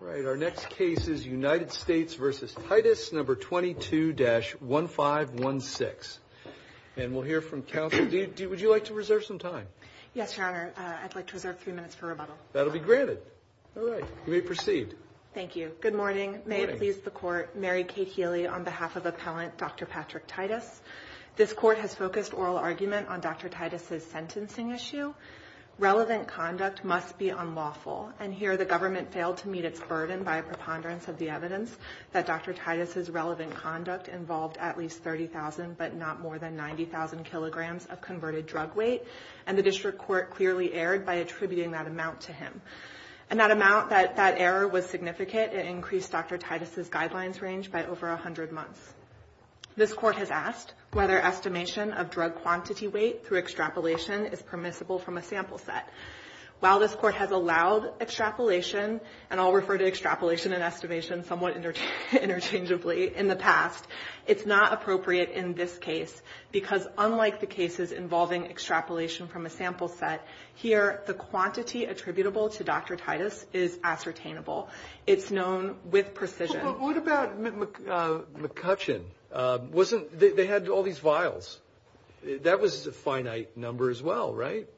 All right, our next case is United States v. Titus No. 22-1516. And we'll hear from counsel. Would you like to reserve some time? Yes, Your Honor. I'd like to reserve three minutes for rebuttal. That'll be granted. All right. You may proceed. Thank you. Good morning. May it please the Court. Mary Kate Healy on behalf of Appellant Dr. Patrick Titus. This Court has focused oral argument on Dr. Titus's sentencing issue. Relevant conduct must be unlawful. And here the government failed to meet its burden by a preponderance of the evidence that Dr. Titus's relevant conduct involved at least 30,000 but not more than 90,000 kilograms of converted drug weight. And the District Court clearly erred by attributing that amount to him. And that amount, that error was significant. It increased Dr. Titus's guidelines range by over 100 months. This Court has asked whether estimation of drug While this Court has allowed extrapolation, and I'll refer to extrapolation and estimation somewhat interchangeably in the past, it's not appropriate in this case because unlike the cases involving extrapolation from a sample set, here the quantity attributable to Dr. Titus is ascertainable. It's known with precision. But what about McCutcheon? They had all these vials. That was a finite number as well, right?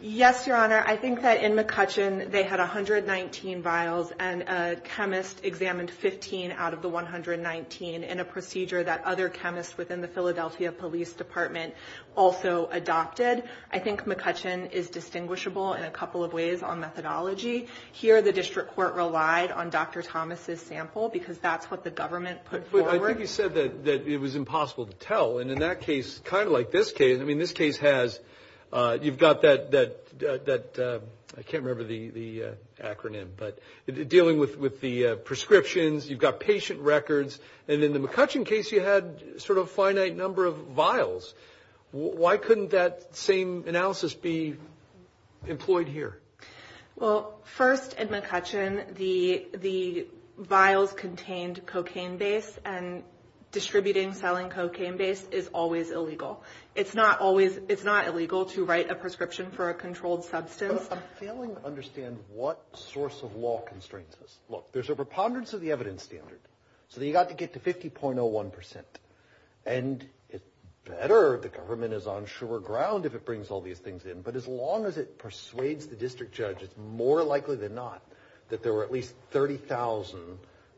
Yes, Your Honor. I think that in McCutcheon they had 119 vials and a chemist examined 15 out of the 119 in a procedure that other chemists within the Philadelphia Police Department also adopted. I think McCutcheon is distinguishable in a couple of ways on methodology. Here the District Court relied on Dr. Thomas' sample because that's what the government put forward. But I think you said that it was impossible to tell. And in that case, kind of like this case has, you've got that, I can't remember the acronym, but dealing with the prescriptions, you've got patient records. And in the McCutcheon case you had sort of a finite number of vials. Why couldn't that same analysis be employed here? Well, first in McCutcheon the vials contained cocaine base and distributing, selling cocaine base is always illegal. It's not always, it's not illegal to write a prescription for a controlled substance. I'm failing to understand what source of law constrains this. Look, there's a preponderance of the evidence standard. So you've got to get to 50.01%. And it's better the government is on sure ground if it brings all these things in. But as long as it persuades the district judge, it's more likely than not that there were at least 30,000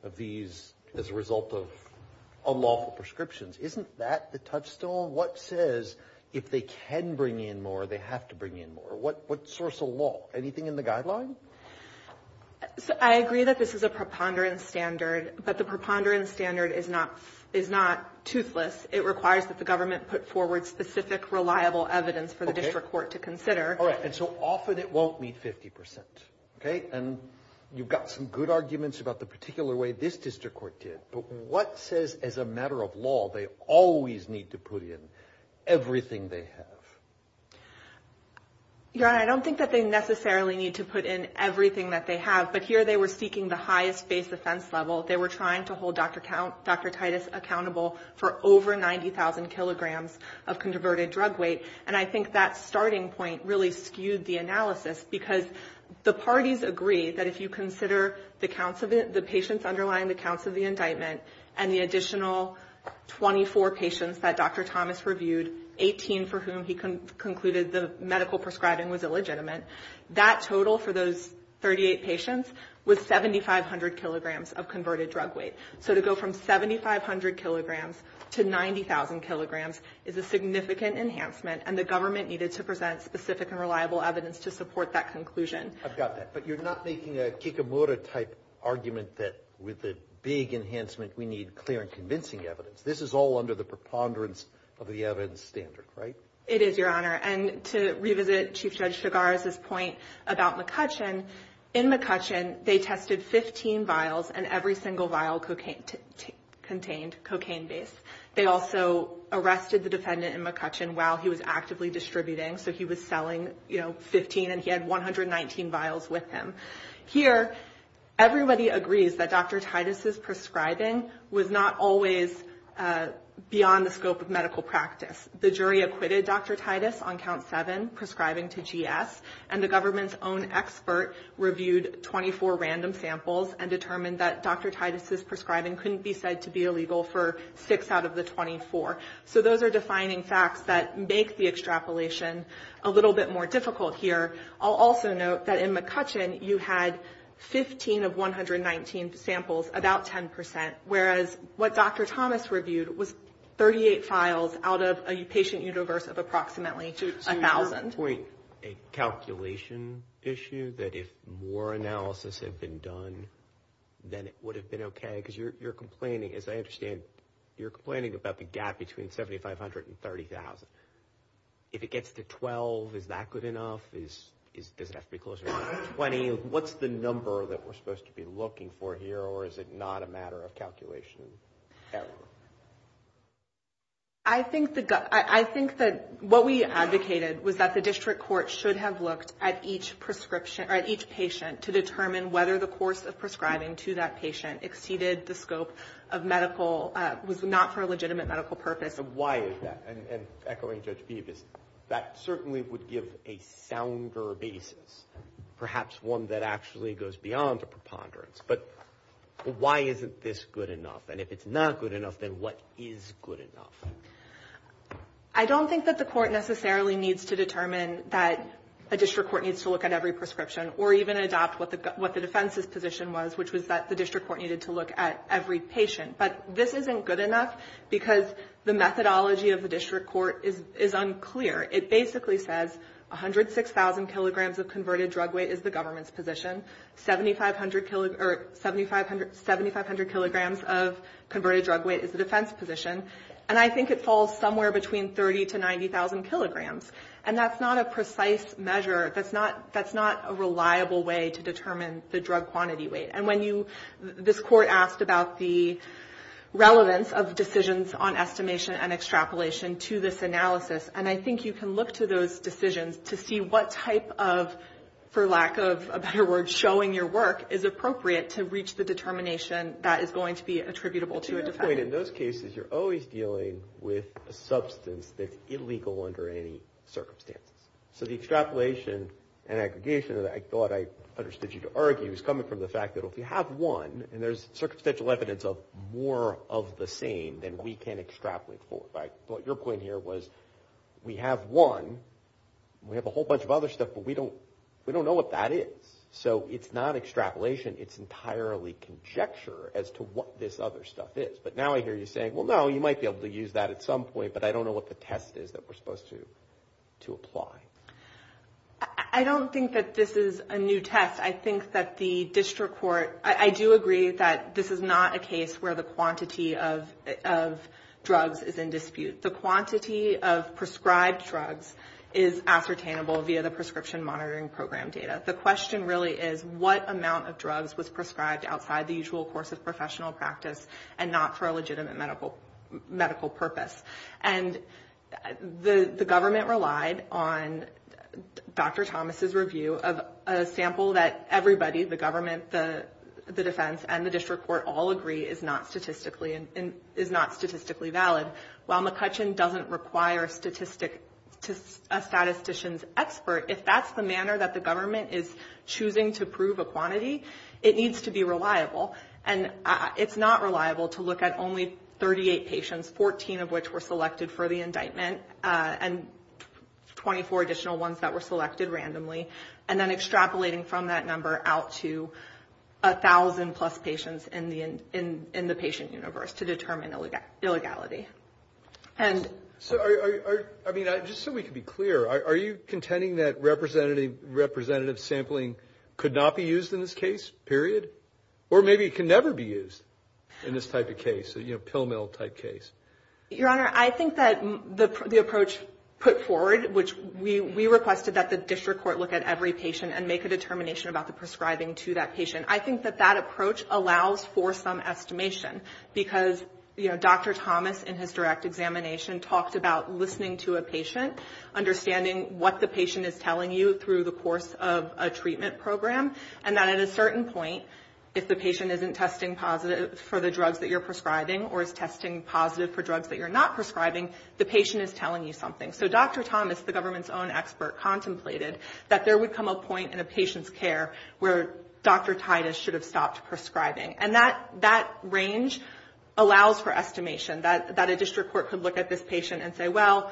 of these as a result of unlawful prescriptions. Isn't that the touchstone? What says if they can bring in more, they have to bring in more? What source of law? Anything in the guideline? I agree that this is a preponderance standard, but the preponderance standard is not toothless. It requires that the government put forward specific, reliable evidence for the district court to consider. All right. And so often it won't meet 50%. Okay? And you've got some good arguments about the particular way this district court did. But what says, as a matter of law, they always need to put in everything they have? Your Honor, I don't think that they necessarily need to put in everything that they have. But here they were seeking the highest base offense level. They were trying to hold Dr. Titus accountable for over 90,000 kilograms of converted drug weight. And I think that starting point really skewed the analysis because the parties agree that if you consider the patients underlying the counts of the indictment and the additional 24 patients that Dr. Thomas reviewed, 18 for whom he concluded the medical prescribing was illegitimate, that total for those 38 patients was 7,500 kilograms of converted drug weight. So to go from 7,500 kilograms to 90,000 kilograms is a significant enhancement, and the government needed to present specific and reliable evidence to support that conclusion. I've got that. But you're not making a Kikimoto-type argument that with the big enhancement we need clear and convincing evidence. This is all under the preponderance of the evidence standard, right? It is, Your Honor. And to revisit Chief Judge Chigars' point about McCutcheon, in McCutcheon they tested 15 vials and every single vial contained cocaine base. They also arrested the defendant in McCutcheon while he was actively distributing. So he was selling, you know, 19 vials with him. Here, everybody agrees that Dr. Titus's prescribing was not always beyond the scope of medical practice. The jury acquitted Dr. Titus on count 7, prescribing to GS, and the government's own expert reviewed 24 random samples and determined that Dr. Titus's prescribing couldn't be said to be illegal for 6 out of the 24. So those are defining facts that make the extrapolation a little bit more difficult here. I'll also note that in McCutcheon you had 15 of 119 samples, about 10%, whereas what Dr. Thomas reviewed was 38 files out of a patient universe of approximately 1,000. So you're pointing a calculation issue that if more analysis had been done, then it would have been okay? Because you're complaining, as I understand, you're complaining about the gap between 7,500 and 30,000. If it gets to 12, is that good enough? Does it have to be closer to 20? What's the number that we're supposed to be looking for here, or is it not a matter of calculation error? I think that what we advocated was that the district court should have looked at each patient to determine whether the course of prescribing to that patient exceeded the scope of medical, was not for a legitimate medical purpose. Why is that? And echoing Judge Phoebus, that certainly would give a sounder basis, perhaps one that actually goes beyond a preponderance. But why isn't this good enough? And if it's not good enough, then what is good enough? I don't think that the court necessarily needs to determine that a district court needs to look at every prescription or even adopt what the defense's position was, which was that the district court needed to look at every patient. But this isn't good enough because the methodology of the district court is unclear. It basically says 106,000 kilograms of converted drug weight is the government's position. 7,500 kilograms of converted drug weight is the defense position. And I think it falls somewhere between 30,000 to 90,000 kilograms. And that's not a precise measure. That's not a reliable way to determine the This court asked about the relevance of decisions on estimation and extrapolation to this analysis. And I think you can look to those decisions to see what type of, for lack of a better word, showing your work is appropriate to reach the determination that is going to be attributable to a defendant. But to your point, in those cases, you're always dealing with a substance that's illegal under any circumstances. So the extrapolation and aggregation that I thought I understood you to argue is coming from the fact that if you have one, and there's circumstantial evidence of more of the same than we can extrapolate for. But your point here was, we have one, we have a whole bunch of other stuff, but we don't know what that is. So it's not extrapolation. It's entirely conjecture as to what this other stuff is. But now I hear you saying, well, no, you might be able to use that at some point, but I don't know what the test is that we're supposed to apply. I don't think that this is a new test. I think that the district court, I do agree that this is not a case where the quantity of drugs is in dispute. The quantity of prescribed drugs is ascertainable via the Prescription Monitoring Program data. The question really is what amount of drugs was prescribed outside the usual course of professional practice and not for a legitimate medical purpose. And the government relied on Dr. Thomas' review of a sample that everybody, the government, the defense, and the district court all agree is not statistically valid. While McCutcheon doesn't require a statistician's expert, if that's the manner that the government is choosing to prove a quantity, it needs to be reliable. And it's not reliable to look at only 38 patients, 14 of which were selected for the indictment, and 24 additional ones that were selected randomly, and then extrapolating from that number out to 1,000-plus patients in the patient universe to determine illegality. And so are you, I mean, just so we can be clear, are you contending that representative sampling could not be used in this case, period? Or maybe it can never be used in this type of case, a, you know, pill mill type case? Your Honor, I think that the approach put forward, which we requested that the district court look at every patient and make a determination about the prescribing to that patient, I think that that approach allows for some estimation. Because, you know, Dr. Thomas in his direct examination talked about listening to a patient, understanding what the patient is telling you through the course of a treatment program, and that at a certain point, if the patient isn't testing positive for the drugs that you're prescribing, or is testing positive for drugs that you're not prescribing, the patient is telling you something. So Dr. Thomas, the government's own expert, contemplated that there would come a point in a patient's care where Dr. Titus should have stopped prescribing. And that range allows for estimation, that a district court could look at this patient and say, well,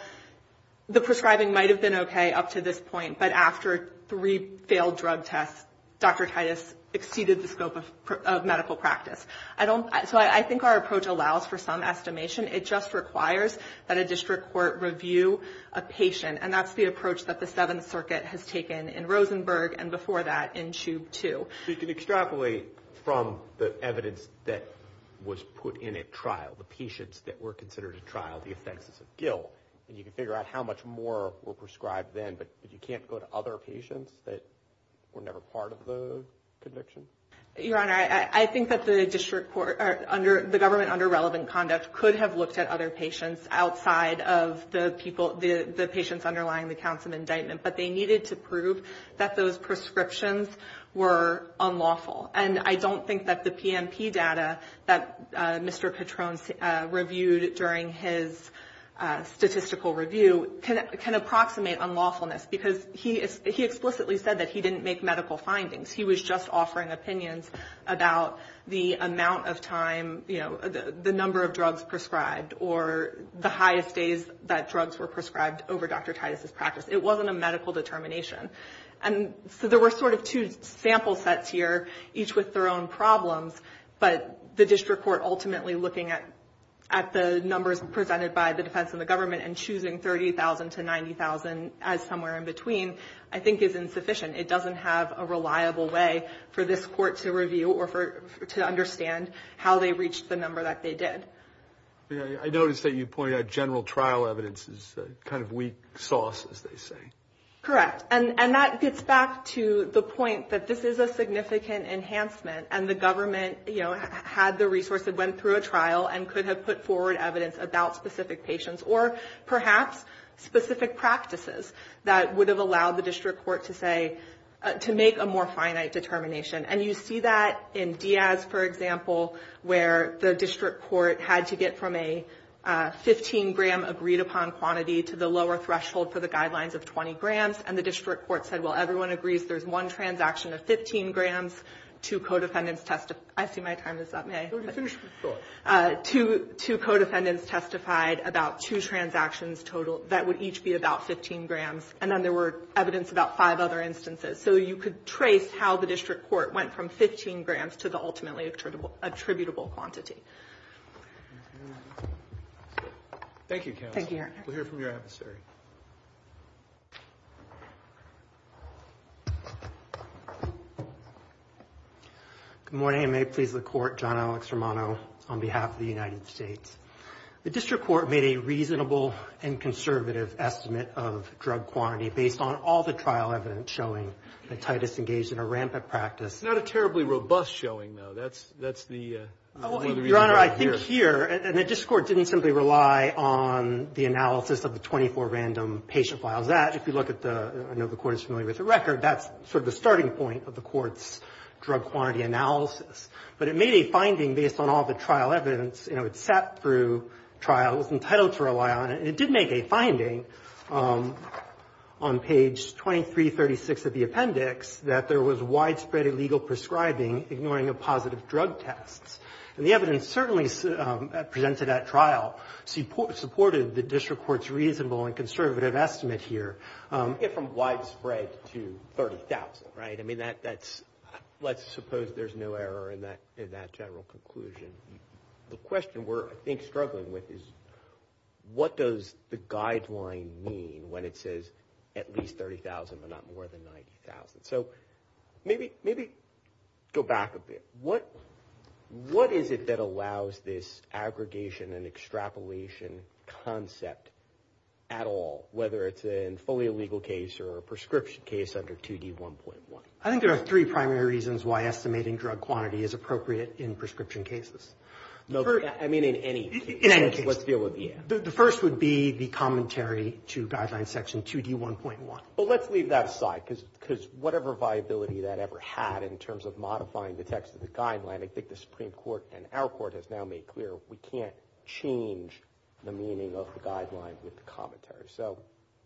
the prescribing might have been okay up to this point, but after three failed drug tests, Dr. Titus exceeded the scope of medical practice. I don't, so I think our approach allows for some estimation. It just requires that a district court review a patient. And that's the approach that the Seventh Circuit has taken in Rosenberg, and before that, in Chube 2. So you can extrapolate from the evidence that was put in at trial, the patients that were prescribed then, but you can't go to other patients that were never part of the conviction? Your Honor, I think that the district court, or the government under relevant conduct, could have looked at other patients outside of the people, the patients underlying the Councilman indictment, but they needed to prove that those prescriptions were unlawful. And I don't think that the PMP data that Mr. Patron reviewed during his statistical review, can approximate unlawfulness, because he explicitly said that he didn't make medical findings. He was just offering opinions about the amount of time, the number of drugs prescribed, or the highest days that drugs were prescribed over Dr. Titus' practice. It wasn't a medical determination. And so there were sort of two sample sets here, each with their own problems, but the district court ultimately looking at the numbers presented by the defense and the government, and choosing 30,000 to 90,000 as somewhere in between, I think is insufficient. It doesn't have a reliable way for this court to review, or to understand how they reached the number that they did. I noticed that you pointed out general trial evidence is kind of weak sauce, as they say. Correct. And that gets back to the point that this is a significant enhancement, and the government had the resource, it went through a trial, and could have put forward evidence about specific patients, or perhaps specific practices that would have allowed the district court to say, to make a more finite determination. And you see that in Diaz, for example, where the district court had to get from a 15-gram agreed upon quantity to the lower threshold for the guidelines of 20 grams, and the district court said, well, everyone agrees there's one transaction of 15 grams, two co-defendants testify, I see my time is up, may I finish? Sure. Two co-defendants testified about two transactions total, that would each be about 15 grams, and then there were evidence about five other instances. So you could trace how the district court went from 15 grams to the ultimately attributable quantity. Thank you, counsel. We'll hear from your adversary. Good morning, and may it please the court, John Alex Romano on behalf of the United States. The district court made a reasonable and conservative estimate of drug quantity based on all the trial evidence showing that Titus engaged in a rampant practice. Not a terribly robust showing, though. That's the reason why we're here. Your Honor, I think here, and the district court didn't simply rely on the analysis of the 24 random patient files. That, if you look at the, I know the court is familiar with the record, that's sort of the starting point of the court's drug quantity analysis. But it made a finding based on all the trial evidence, you know, it sat through trials and titled for a while, and it did make a finding on page 2336 of the appendix that there was widespread illegal prescribing, ignoring the positive drug tests. And the evidence certainly presented at trial supported the district court's reasonable and conservative estimate here. From widespread to 30,000, right? I mean, that's, let's suppose there's no error in that general conclusion. The question we're, I think, struggling with is what does the guideline mean when it says at least 30,000, but not more than 90,000? So, maybe go back a bit. What is it that allows this aggregation and extrapolation concept at all, whether it's a fully illegal case or a prescription case under 2D1.1? I think there are three primary reasons why estimating drug quantity is appropriate in prescription cases. I mean, in any case, let's deal with the end. The first would be the commentary to guideline section 2D1.1. But let's leave that aside, because whatever viability that ever had in terms of modifying the text of the guideline, I think the Supreme Court and our court has now made clear we can't change the meaning of the guideline with the commentary. So,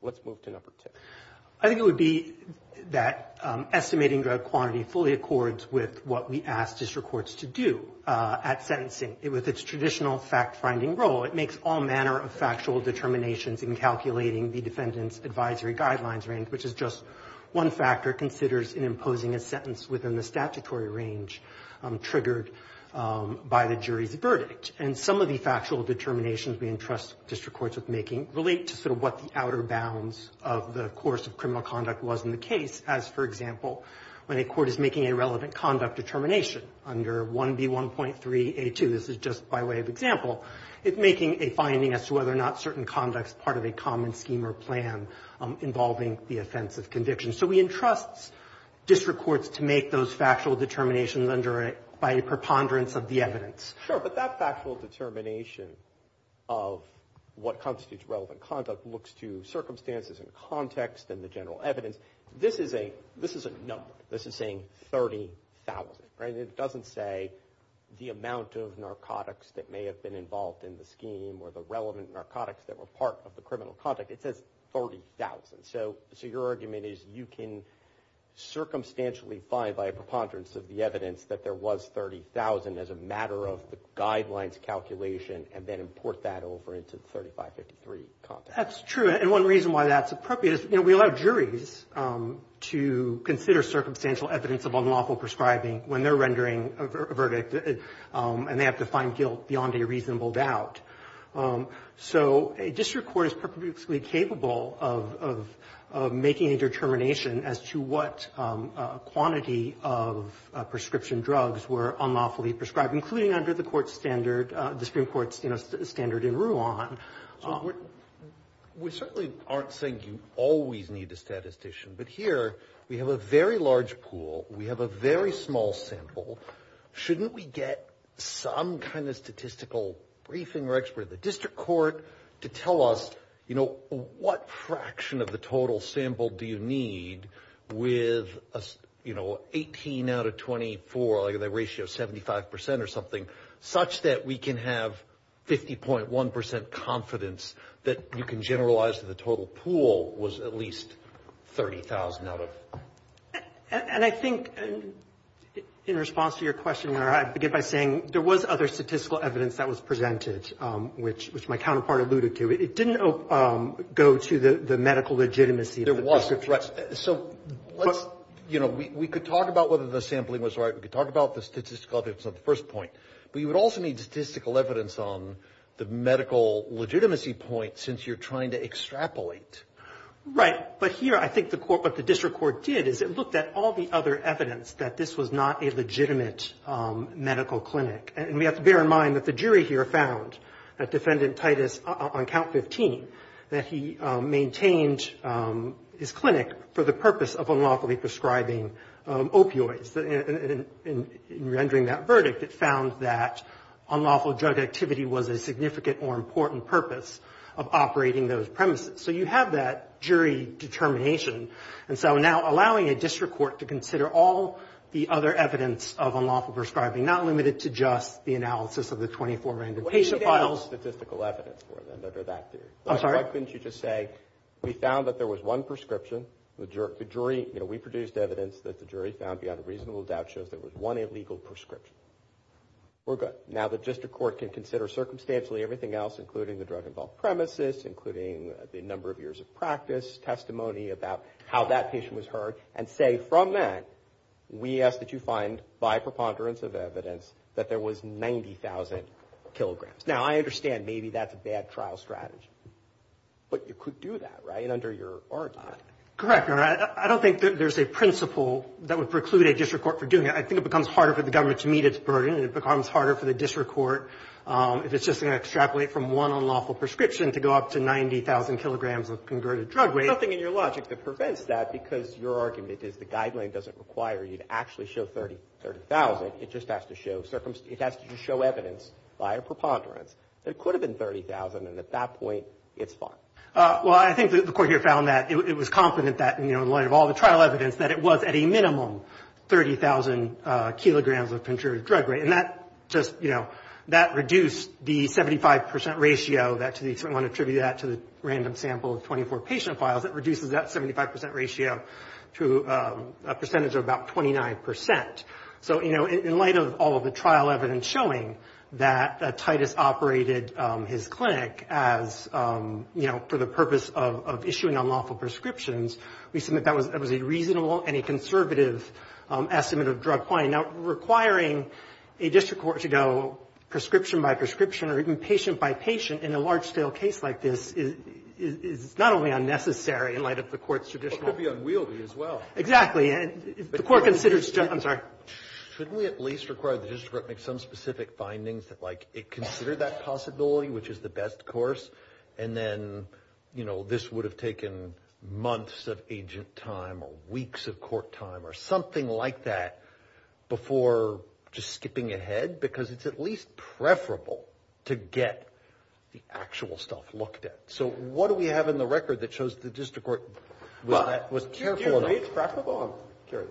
let's move to number two. I think it would be that estimating drug quantity fully accords with what we ask district courts to do at sentencing. With its traditional fact-finding role, it makes all manner of factual determinations in calculating the defendant's advisory guidelines range, which is just one factor it considers in imposing a sentence within the statutory range triggered by the jury's verdict. And some of the factual determinations we entrust district courts with making relate to sort of what the outer bounds of the course of criminal conduct was in the case, as, for example, when a court is making a relevant conduct determination under 1B1.3A2. This is just by way of example. It's making a finding as to whether or not certain conduct is part of a common scheme or plan involving the offense of conviction. So we entrust district courts to make those factual determinations under it by a preponderance of the evidence. Sure. But that factual determination of what constitutes relevant conduct looks to circumstances and context and the general evidence. This is a number. This is saying 30,000, right? And it doesn't say the amount of narcotics that may have been involved in the scheme or the relevant narcotics that were part of the criminal conduct. It says 30,000. So your argument is you can circumstantially find by a preponderance of the evidence that there was 30,000 as a matter of the guidelines calculation and then import that over into the 3553 context. That's true. And one reason why that's appropriate is, you know, we allow juries to consider circumstantial evidence of unlawful prescribing when they're rendering a verdict, and they have to find guilt beyond a reasonable doubt. So a district court is perpetually capable of making a determination as to what quantity of prescription drugs were unlawfully prescribed, including under the court's standard, the Supreme Court's, you know, standard in Ruan. We certainly aren't saying you always need a statistician, but here we have a very large pool, we have a very small sample, shouldn't we get some kind of statistical briefing or expert at the district court to tell us, you know, what fraction of the total sample do you need with, you know, 18 out of 24, like the ratio of 75 percent or something, such that we can have 50.1 percent confidence that you can generalize to the total pool was at least 30,000 out of. And I think, in response to your question, I begin by saying there was other statistical evidence that was presented, which my counterpart alluded to. It didn't go to the medical legitimacy of the prescription. So let's, you know, we could talk about whether the sampling was right, we could talk about the statistical evidence on the first point, but you would also need statistical evidence on the medical legitimacy point, since you're trying to extrapolate. Right. But here I think the court, what the district court did is it looked at all the other evidence that this was not a legitimate medical clinic, and we have to bear in mind that the jury here found that Defendant Titus, on count 15, that he maintained his clinic for the purpose of unlawfully prescribing opioids, and in rendering that verdict, it found that unlawful drug activity was a significant or important purpose of operating those premises. So you have that jury determination, and so now allowing a district court to consider all the other evidence of unlawful prescribing, not limited to just the analysis of the 24 Well, you need to have statistical evidence for that, under that theory. I'm sorry? Why couldn't you just say, we found that there was one prescription, the jury, you know, we produced evidence that the jury found beyond a reasonable doubt shows there was one illegal prescription. We're good. Now the district court can consider circumstantially everything else, including the drug-involved premises, including the number of years of practice, testimony about how that patient was hurt, and say from that, we ask that you find, by preponderance of evidence, that there was 90,000 kilograms. Now I understand maybe that's a bad trial strategy, but you could do that, right, under your argument. Correct, Your Honor. I don't think there's a principle that would preclude a district court from doing it. I think it becomes harder for the government to meet its burden, and it becomes harder for the district court, if it's just going to extrapolate from one unlawful prescription to go up to 90,000 kilograms of converted drug weight. There's nothing in your logic that prevents that, because your argument is the guideline doesn't require you to actually show 30,000. It just has to show evidence by a preponderance that it could have been 30,000, and at that point, it's fine. Well, I think the court here found that it was confident that, you know, in light of all the trial evidence, that it was at a minimum 30,000 kilograms of converted drug weight. And that just, you know, that reduced the 75 percent ratio that to the, I want to attribute that to the random sample of 24 patient files, that reduces that 75 percent ratio to a percentage of about 29 percent. So, you know, in light of all of the trial evidence showing that Titus operated his clinic as, you know, for the purpose of issuing unlawful prescriptions, we submit that was a reasonable and a conservative estimate of drug quantity. Now, requiring a district court to go prescription by prescription or even patient by patient in a large scale case like this is not only unnecessary in light of the court's traditional… It could be unwieldy as well. Exactly. And if the court considers… I'm sorry. Shouldn't we at least require the district court to make some specific findings that like it considered that possibility, which is the best course, and then, you know, this would have taken months of agent time or weeks of court time or something like that before just skipping ahead because it's at least preferable to get the actual stuff looked at. So, what do we have in the record that shows the district court was careful enough… It's preferable? I'm curious.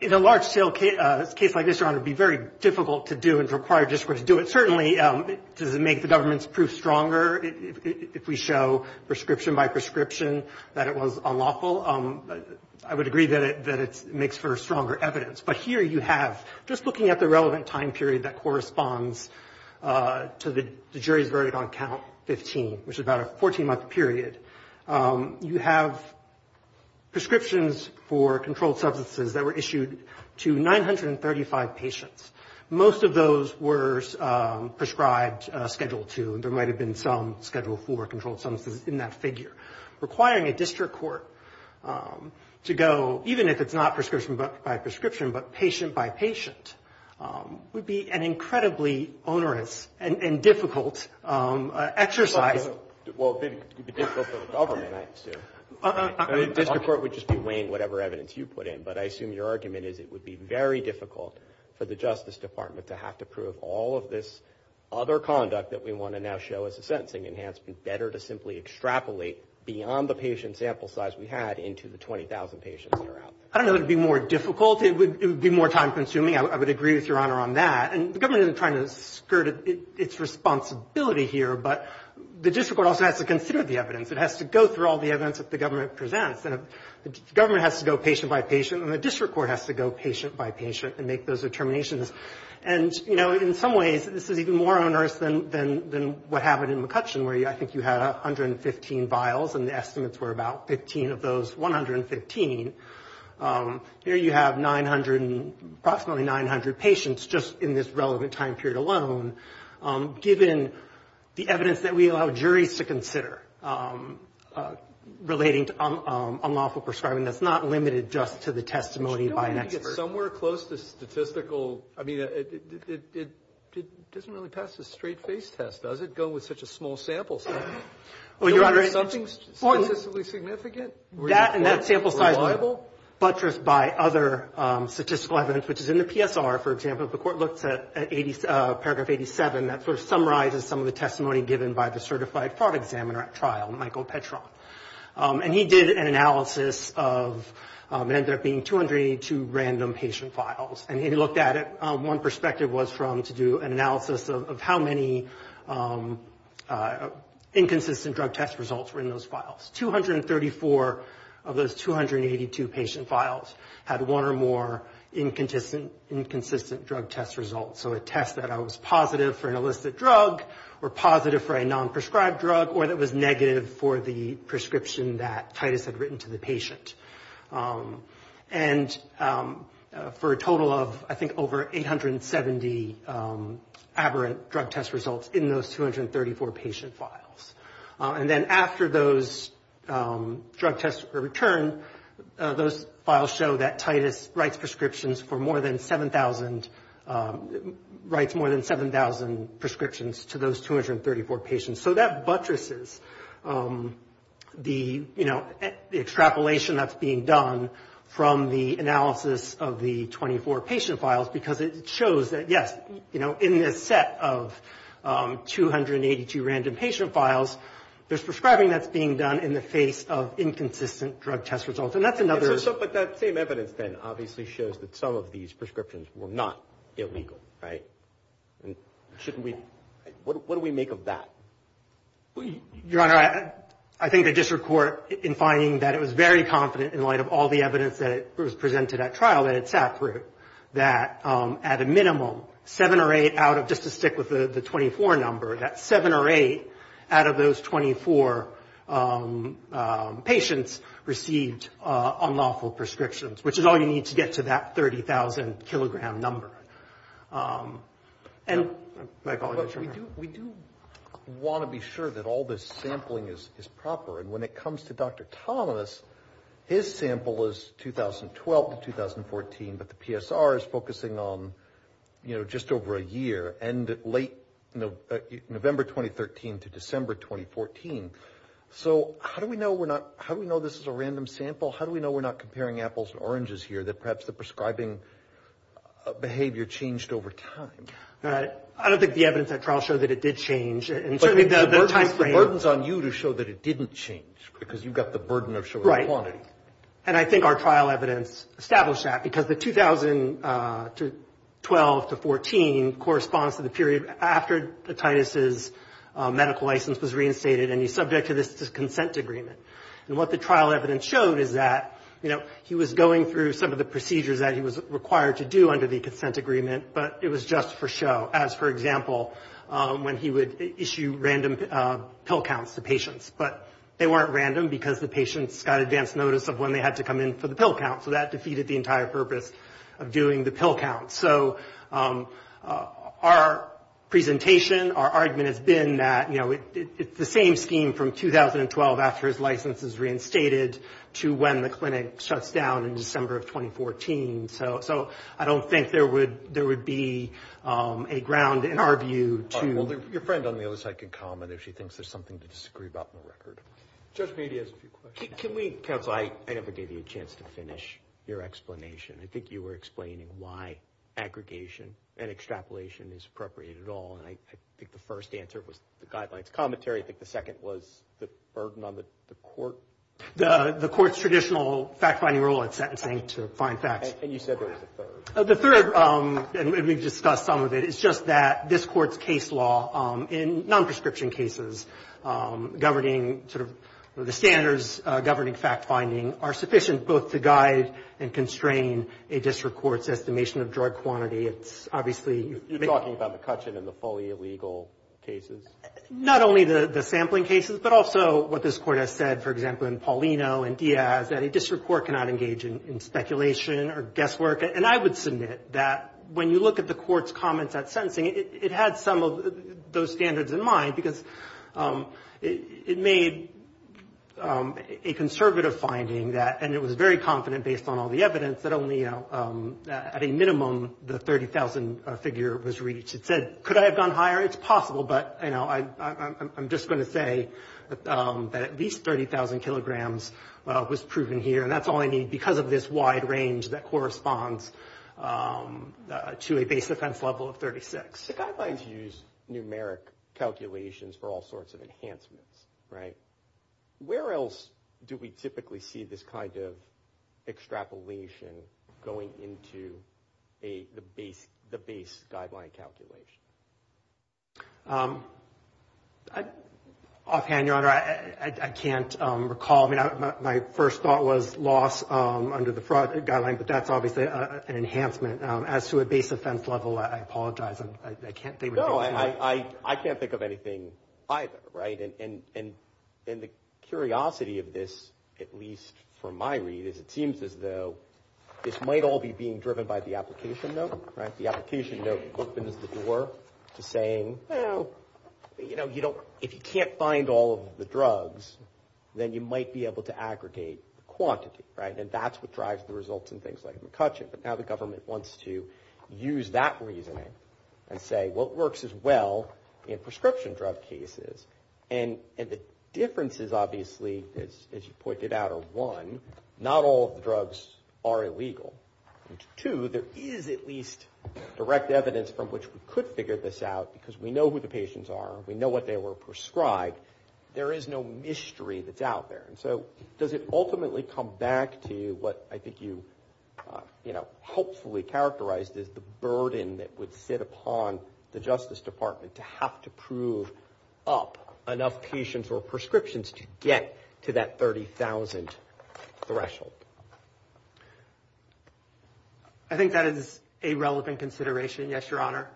In a large scale case like this, Your Honor, it would be very difficult to do and require district court to do it. Well, certainly, does it make the government's proof stronger if we show prescription by prescription that it was unlawful? I would agree that it makes for stronger evidence, but here you have, just looking at the relevant time period that corresponds to the jury's verdict on count 15, which is about a 14-month period, you have prescriptions for controlled substances that were issued to 935 patients. Most of those were prescribed Schedule II, and there might have been some Schedule IV controlled substances in that figure. Requiring a district court to go, even if it's not prescription by prescription, but patient by patient, would be an incredibly onerous and difficult exercise… Well, it would be difficult for the government, I assume. I mean, district court would just be weighing whatever evidence you put in, but I assume your argument is it would be very difficult for the Justice Department to have to prove all of this other conduct that we want to now show as a sentencing enhancement better to simply extrapolate beyond the patient sample size we had into the 20,000 patients that are out there. I don't know that it would be more difficult. It would be more time-consuming. I would agree with Your Honor on that, and the government isn't trying to skirt its responsibility here, but the district court also has to consider the evidence. It has to go through all the evidence that the government presents, and the government has to go patient by patient, and the district court has to go patient by patient and make those determinations. And, you know, in some ways, this is even more onerous than what happened in McCutcheon, where I think you had 115 vials, and the estimates were about 15 of those 115. Here you have approximately 900 patients just in this relevant time period alone. Given the evidence that we allow juries to consider relating to unlawful prescribing that's not limited just to the testimony by an expert. But you don't need to get somewhere close to statistical, I mean, it doesn't really pass the straight-face test, does it, going with such a small sample size? Well, Your Honor, it's important. Isn't there something statistically significant? That and that sample size were buttressed by other statistical evidence, which is in the PSR, for example. If the court looks at paragraph 87, that sort of summarizes some of the testimony given by the certified fraud examiner at trial, Michael Petron. And he did an analysis of, it ended up being 282 random patient files. And he looked at it, one perspective was from, to do an analysis of how many inconsistent drug test results were in those files. 234 of those 282 patient files had one or more inconsistent drug test results. So a test that I was positive for an illicit drug, or positive for a non-prescribed drug, or that was negative for the prescription that Titus had written to the patient. And for a total of, I think, over 870 aberrant drug test results in those 234 patient files. And then after those drug tests were returned, those files show that Titus writes prescriptions for more than 7,000, writes more than 7,000 prescriptions to those 234 patients. So that buttresses the, you know, the extrapolation that's being done from the analysis of the 24 patient files. Because it shows that, yes, you know, in this set of 282 random patient files, there's prescribing that's being done in the face of inconsistent drug test results. And that's another. But that same evidence, then, obviously shows that some of these prescriptions were not illegal, right? And shouldn't we, what do we make of that? Your Honor, I think the district court, in finding that it was very confident in light of all the evidence that was presented at trial that it sat through, that at a minimum, seven or eight out of, just to stick with the 24 number, that seven or eight out of those 24 patients received unlawful prescriptions. Which is all you need to get to that 30,000 kilogram number. And, my apologies, Your Honor. But we do want to be sure that all this sampling is proper. And when it comes to Dr. Thomas, his sample is 2012 to 2014. But the PSR is focusing on, you know, just over a year. And late November 2013 to December 2014. So how do we know we're not, how do we know this is a random sample? How do we know we're not comparing apples and oranges here? Perhaps the prescribing behavior changed over time. I don't think the evidence at trial showed that it did change. But the burden's on you to show that it didn't change. Because you've got the burden of showing the quantity. And I think our trial evidence established that. Because the 2012 to 2014 corresponds to the period after Titus's medical license was reinstated. And he's subject to this consent agreement. And what the trial evidence showed is that, you know, he was going through some of the procedures that he was required to do under the consent agreement. But it was just for show. As, for example, when he would issue random pill counts to patients. But they weren't random because the patients got advance notice of when they had to come in for the pill count. So that defeated the entire purpose of doing the pill count. So our presentation, our argument has been that, you know, it's the same scheme from 2012, after his license is reinstated, to when the clinic shuts down in December of 2014. So I don't think there would be a ground, in our view, to... All right. Well, your friend on the other side can comment if she thinks there's something to disagree about in the record. Judge Meade has a few questions. Can we, counsel, I never gave you a chance to finish your explanation. I think you were explaining why aggregation and extrapolation is appropriate at all. And I think the first answer was the guidelines commentary. I think the second was the burden on the court. The court's traditional fact-finding rule at sentencing to find facts. And you said there was a third. The third, and we've discussed some of it, is just that this court's case law in non-prescription cases governing sort of the standards governing fact-finding are sufficient both to guide and constrain a district court's estimation of drug quantity. It's obviously... You're talking about McCutcheon and the fully illegal cases? Not only the sampling cases, but also what this court has said, for example, in Paulino and Diaz, that a district court cannot engage in speculation or guesswork. And I would submit that when you look at the court's comments at sentencing, it had some of those standards in mind because it made a conservative finding that, and it was very confident based on all the evidence, that only at a minimum the 30,000 figure was reached. It said, could I have gone higher? It's possible, but I'm just going to say that at least 30,000 kilograms was proven here, and that's all I need because of this wide range that corresponds to a base offense level of 36. The guidelines use numeric calculations for all sorts of enhancements, right? Where else do we typically see this kind of extrapolation going into the base guideline calculation? Offhand, Your Honor, I can't recall. My first thought was loss under the fraud guideline, but that's obviously an enhancement. As to a base offense level, I apologize. I can't think of anything. No, I can't think of anything either, right? And the curiosity of this, at least from my read, is it seems as though this might all be being driven by the application note, right? The application note opens the door to saying, well, you know, if you can't find all of the drugs, then you might be able to aggregate the quantity, right? And that's what drives the results in things like McCutcheon, but now the government wants to use that reasoning and say, well, it works as well in prescription drug cases. And the differences, obviously, as you pointed out, are one, not all of the drugs are illegal. Two, there is at least direct evidence from which we could figure this out because we know who the patients are. We know what they were prescribed. There is no mystery that's out there. And so does it ultimately come back to what I think you, you know, helpfully characterized as the burden that would sit upon the Justice Department to have to prove up enough patients or prescriptions to get to that 30,000 threshold? I think that is a relevant consideration, yes, Your Honor,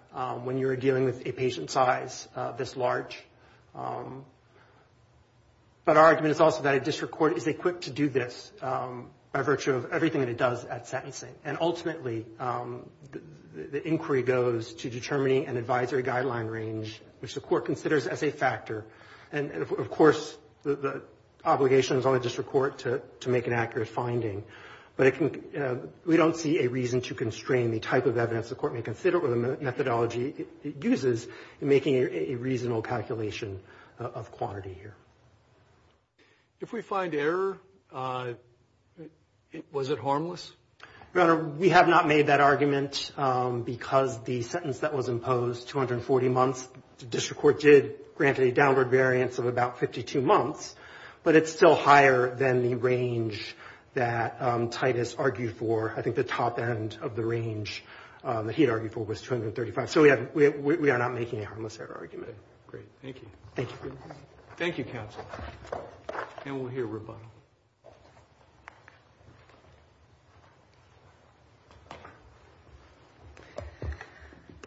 when you're dealing with a patient size this large. But our argument is also that a district court is equipped to do this by virtue of everything that it does at sentencing. And ultimately, the inquiry goes to determining an advisory guideline range, which the court considers as a factor. And of course, the obligation is on the district court to make an accurate finding. But we don't see a reason to constrain the type of evidence the court may consider or the methodology it uses in making a reasonable calculation of quantity here. If we find error, was it harmless? Your Honor, we have not made that argument because the sentence that was imposed, 240 months, the district court did grant a downward variance of about 52 months. But it's still higher than the range that Titus argued for. I think the top end of the range that he argued for was 235. So we are not making a harmless error argument. Great. Thank you. Thank you. Thank you, counsel. And we'll hear rebuttal.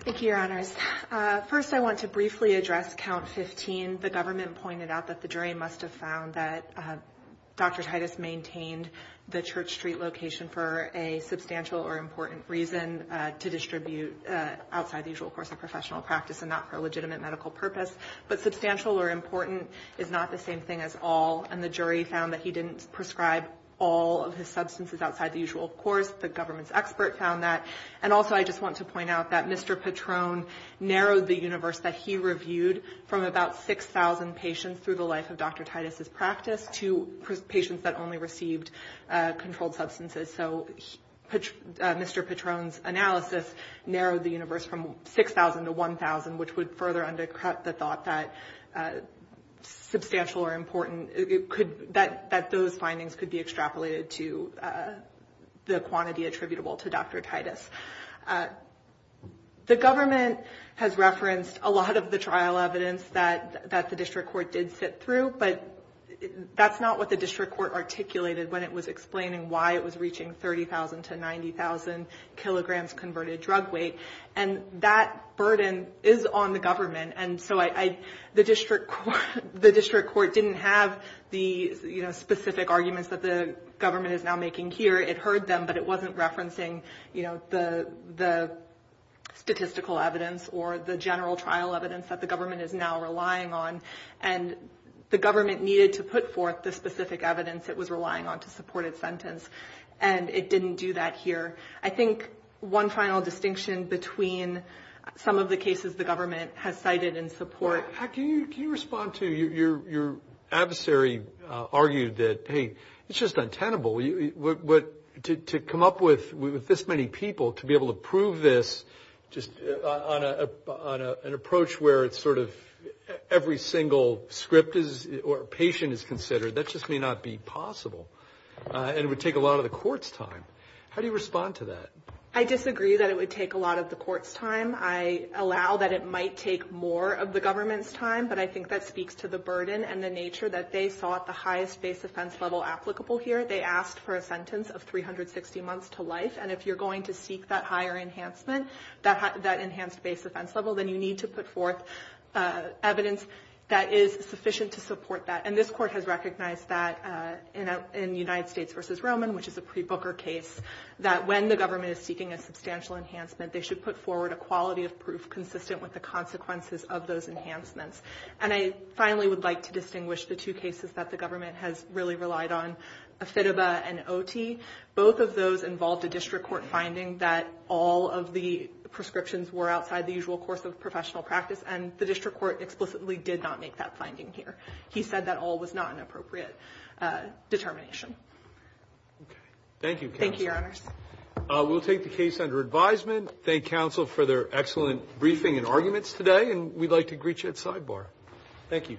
Thank you, Your Honors. First, I want to briefly address count 15. The government pointed out that the jury must have found that Dr. Titus maintained the Church Street location for a substantial or important reason to distribute outside the usual course of professional practice and not for a legitimate medical purpose. But substantial or important is not the same thing as all. And the jury found that he didn't prescribe all of his substances outside the usual course. The government's expert found that. And also, I just want to point out that Mr. Patron narrowed the universe that he reviewed from about 6,000 patients through the life of Dr. Titus's practice to patients that only received controlled substances. So Mr. Patron's analysis narrowed the universe from 6,000 to 1,000, which would further undercut the thought that substantial or important, that those findings could be extrapolated to the quantity attributable to Dr. Titus. The government has referenced a lot of the trial evidence that the district court did sit through, but that's not what the district court articulated when it was explaining why it was reaching 30,000 to 90,000 kilograms converted drug weight. And that burden is on the government. And so the district court didn't have the specific arguments that the government is now making here. It heard them, but it wasn't referencing the statistical evidence or the general trial evidence that the government is now relying on. And the government needed to put forth the specific evidence it was relying on to support its sentence. And it didn't do that here. I think one final distinction between some of the cases the government has cited in support- Well, can you respond to your adversary argued that, hey, it's just untenable. But to come up with this many people to be able to prove this just on an approach where it's sort of every single script or patient is considered, that just may not be possible. And it would take a lot of the court's time. How do you respond to that? I disagree that it would take a lot of the court's time. I allow that it might take more of the government's time. But I think that speaks to the burden and the nature that they saw at the highest base offense level applicable here. They asked for a sentence of 360 months to life. And if you're going to seek that higher enhancement, that enhanced base offense level, then you need to put forth evidence that is sufficient to support that. And this court has recognized that in United States v. Roman, which is a pre-Booker case, that when the government is seeking a substantial enhancement, they should put forward a quality of proof consistent with the consequences of those enhancements. And I finally would like to distinguish the two cases that the government has really relied on and both of those involved a district court finding that all of the prescriptions were outside the usual course of professional practice. And the district court explicitly did not make that finding here. He said that all was not an appropriate determination. Okay. Thank you. Thank you, Your Honors. We'll take the case under advisement. Thank counsel for their excellent briefing and arguments today. And we'd like to greet you at sidebar. Thank you.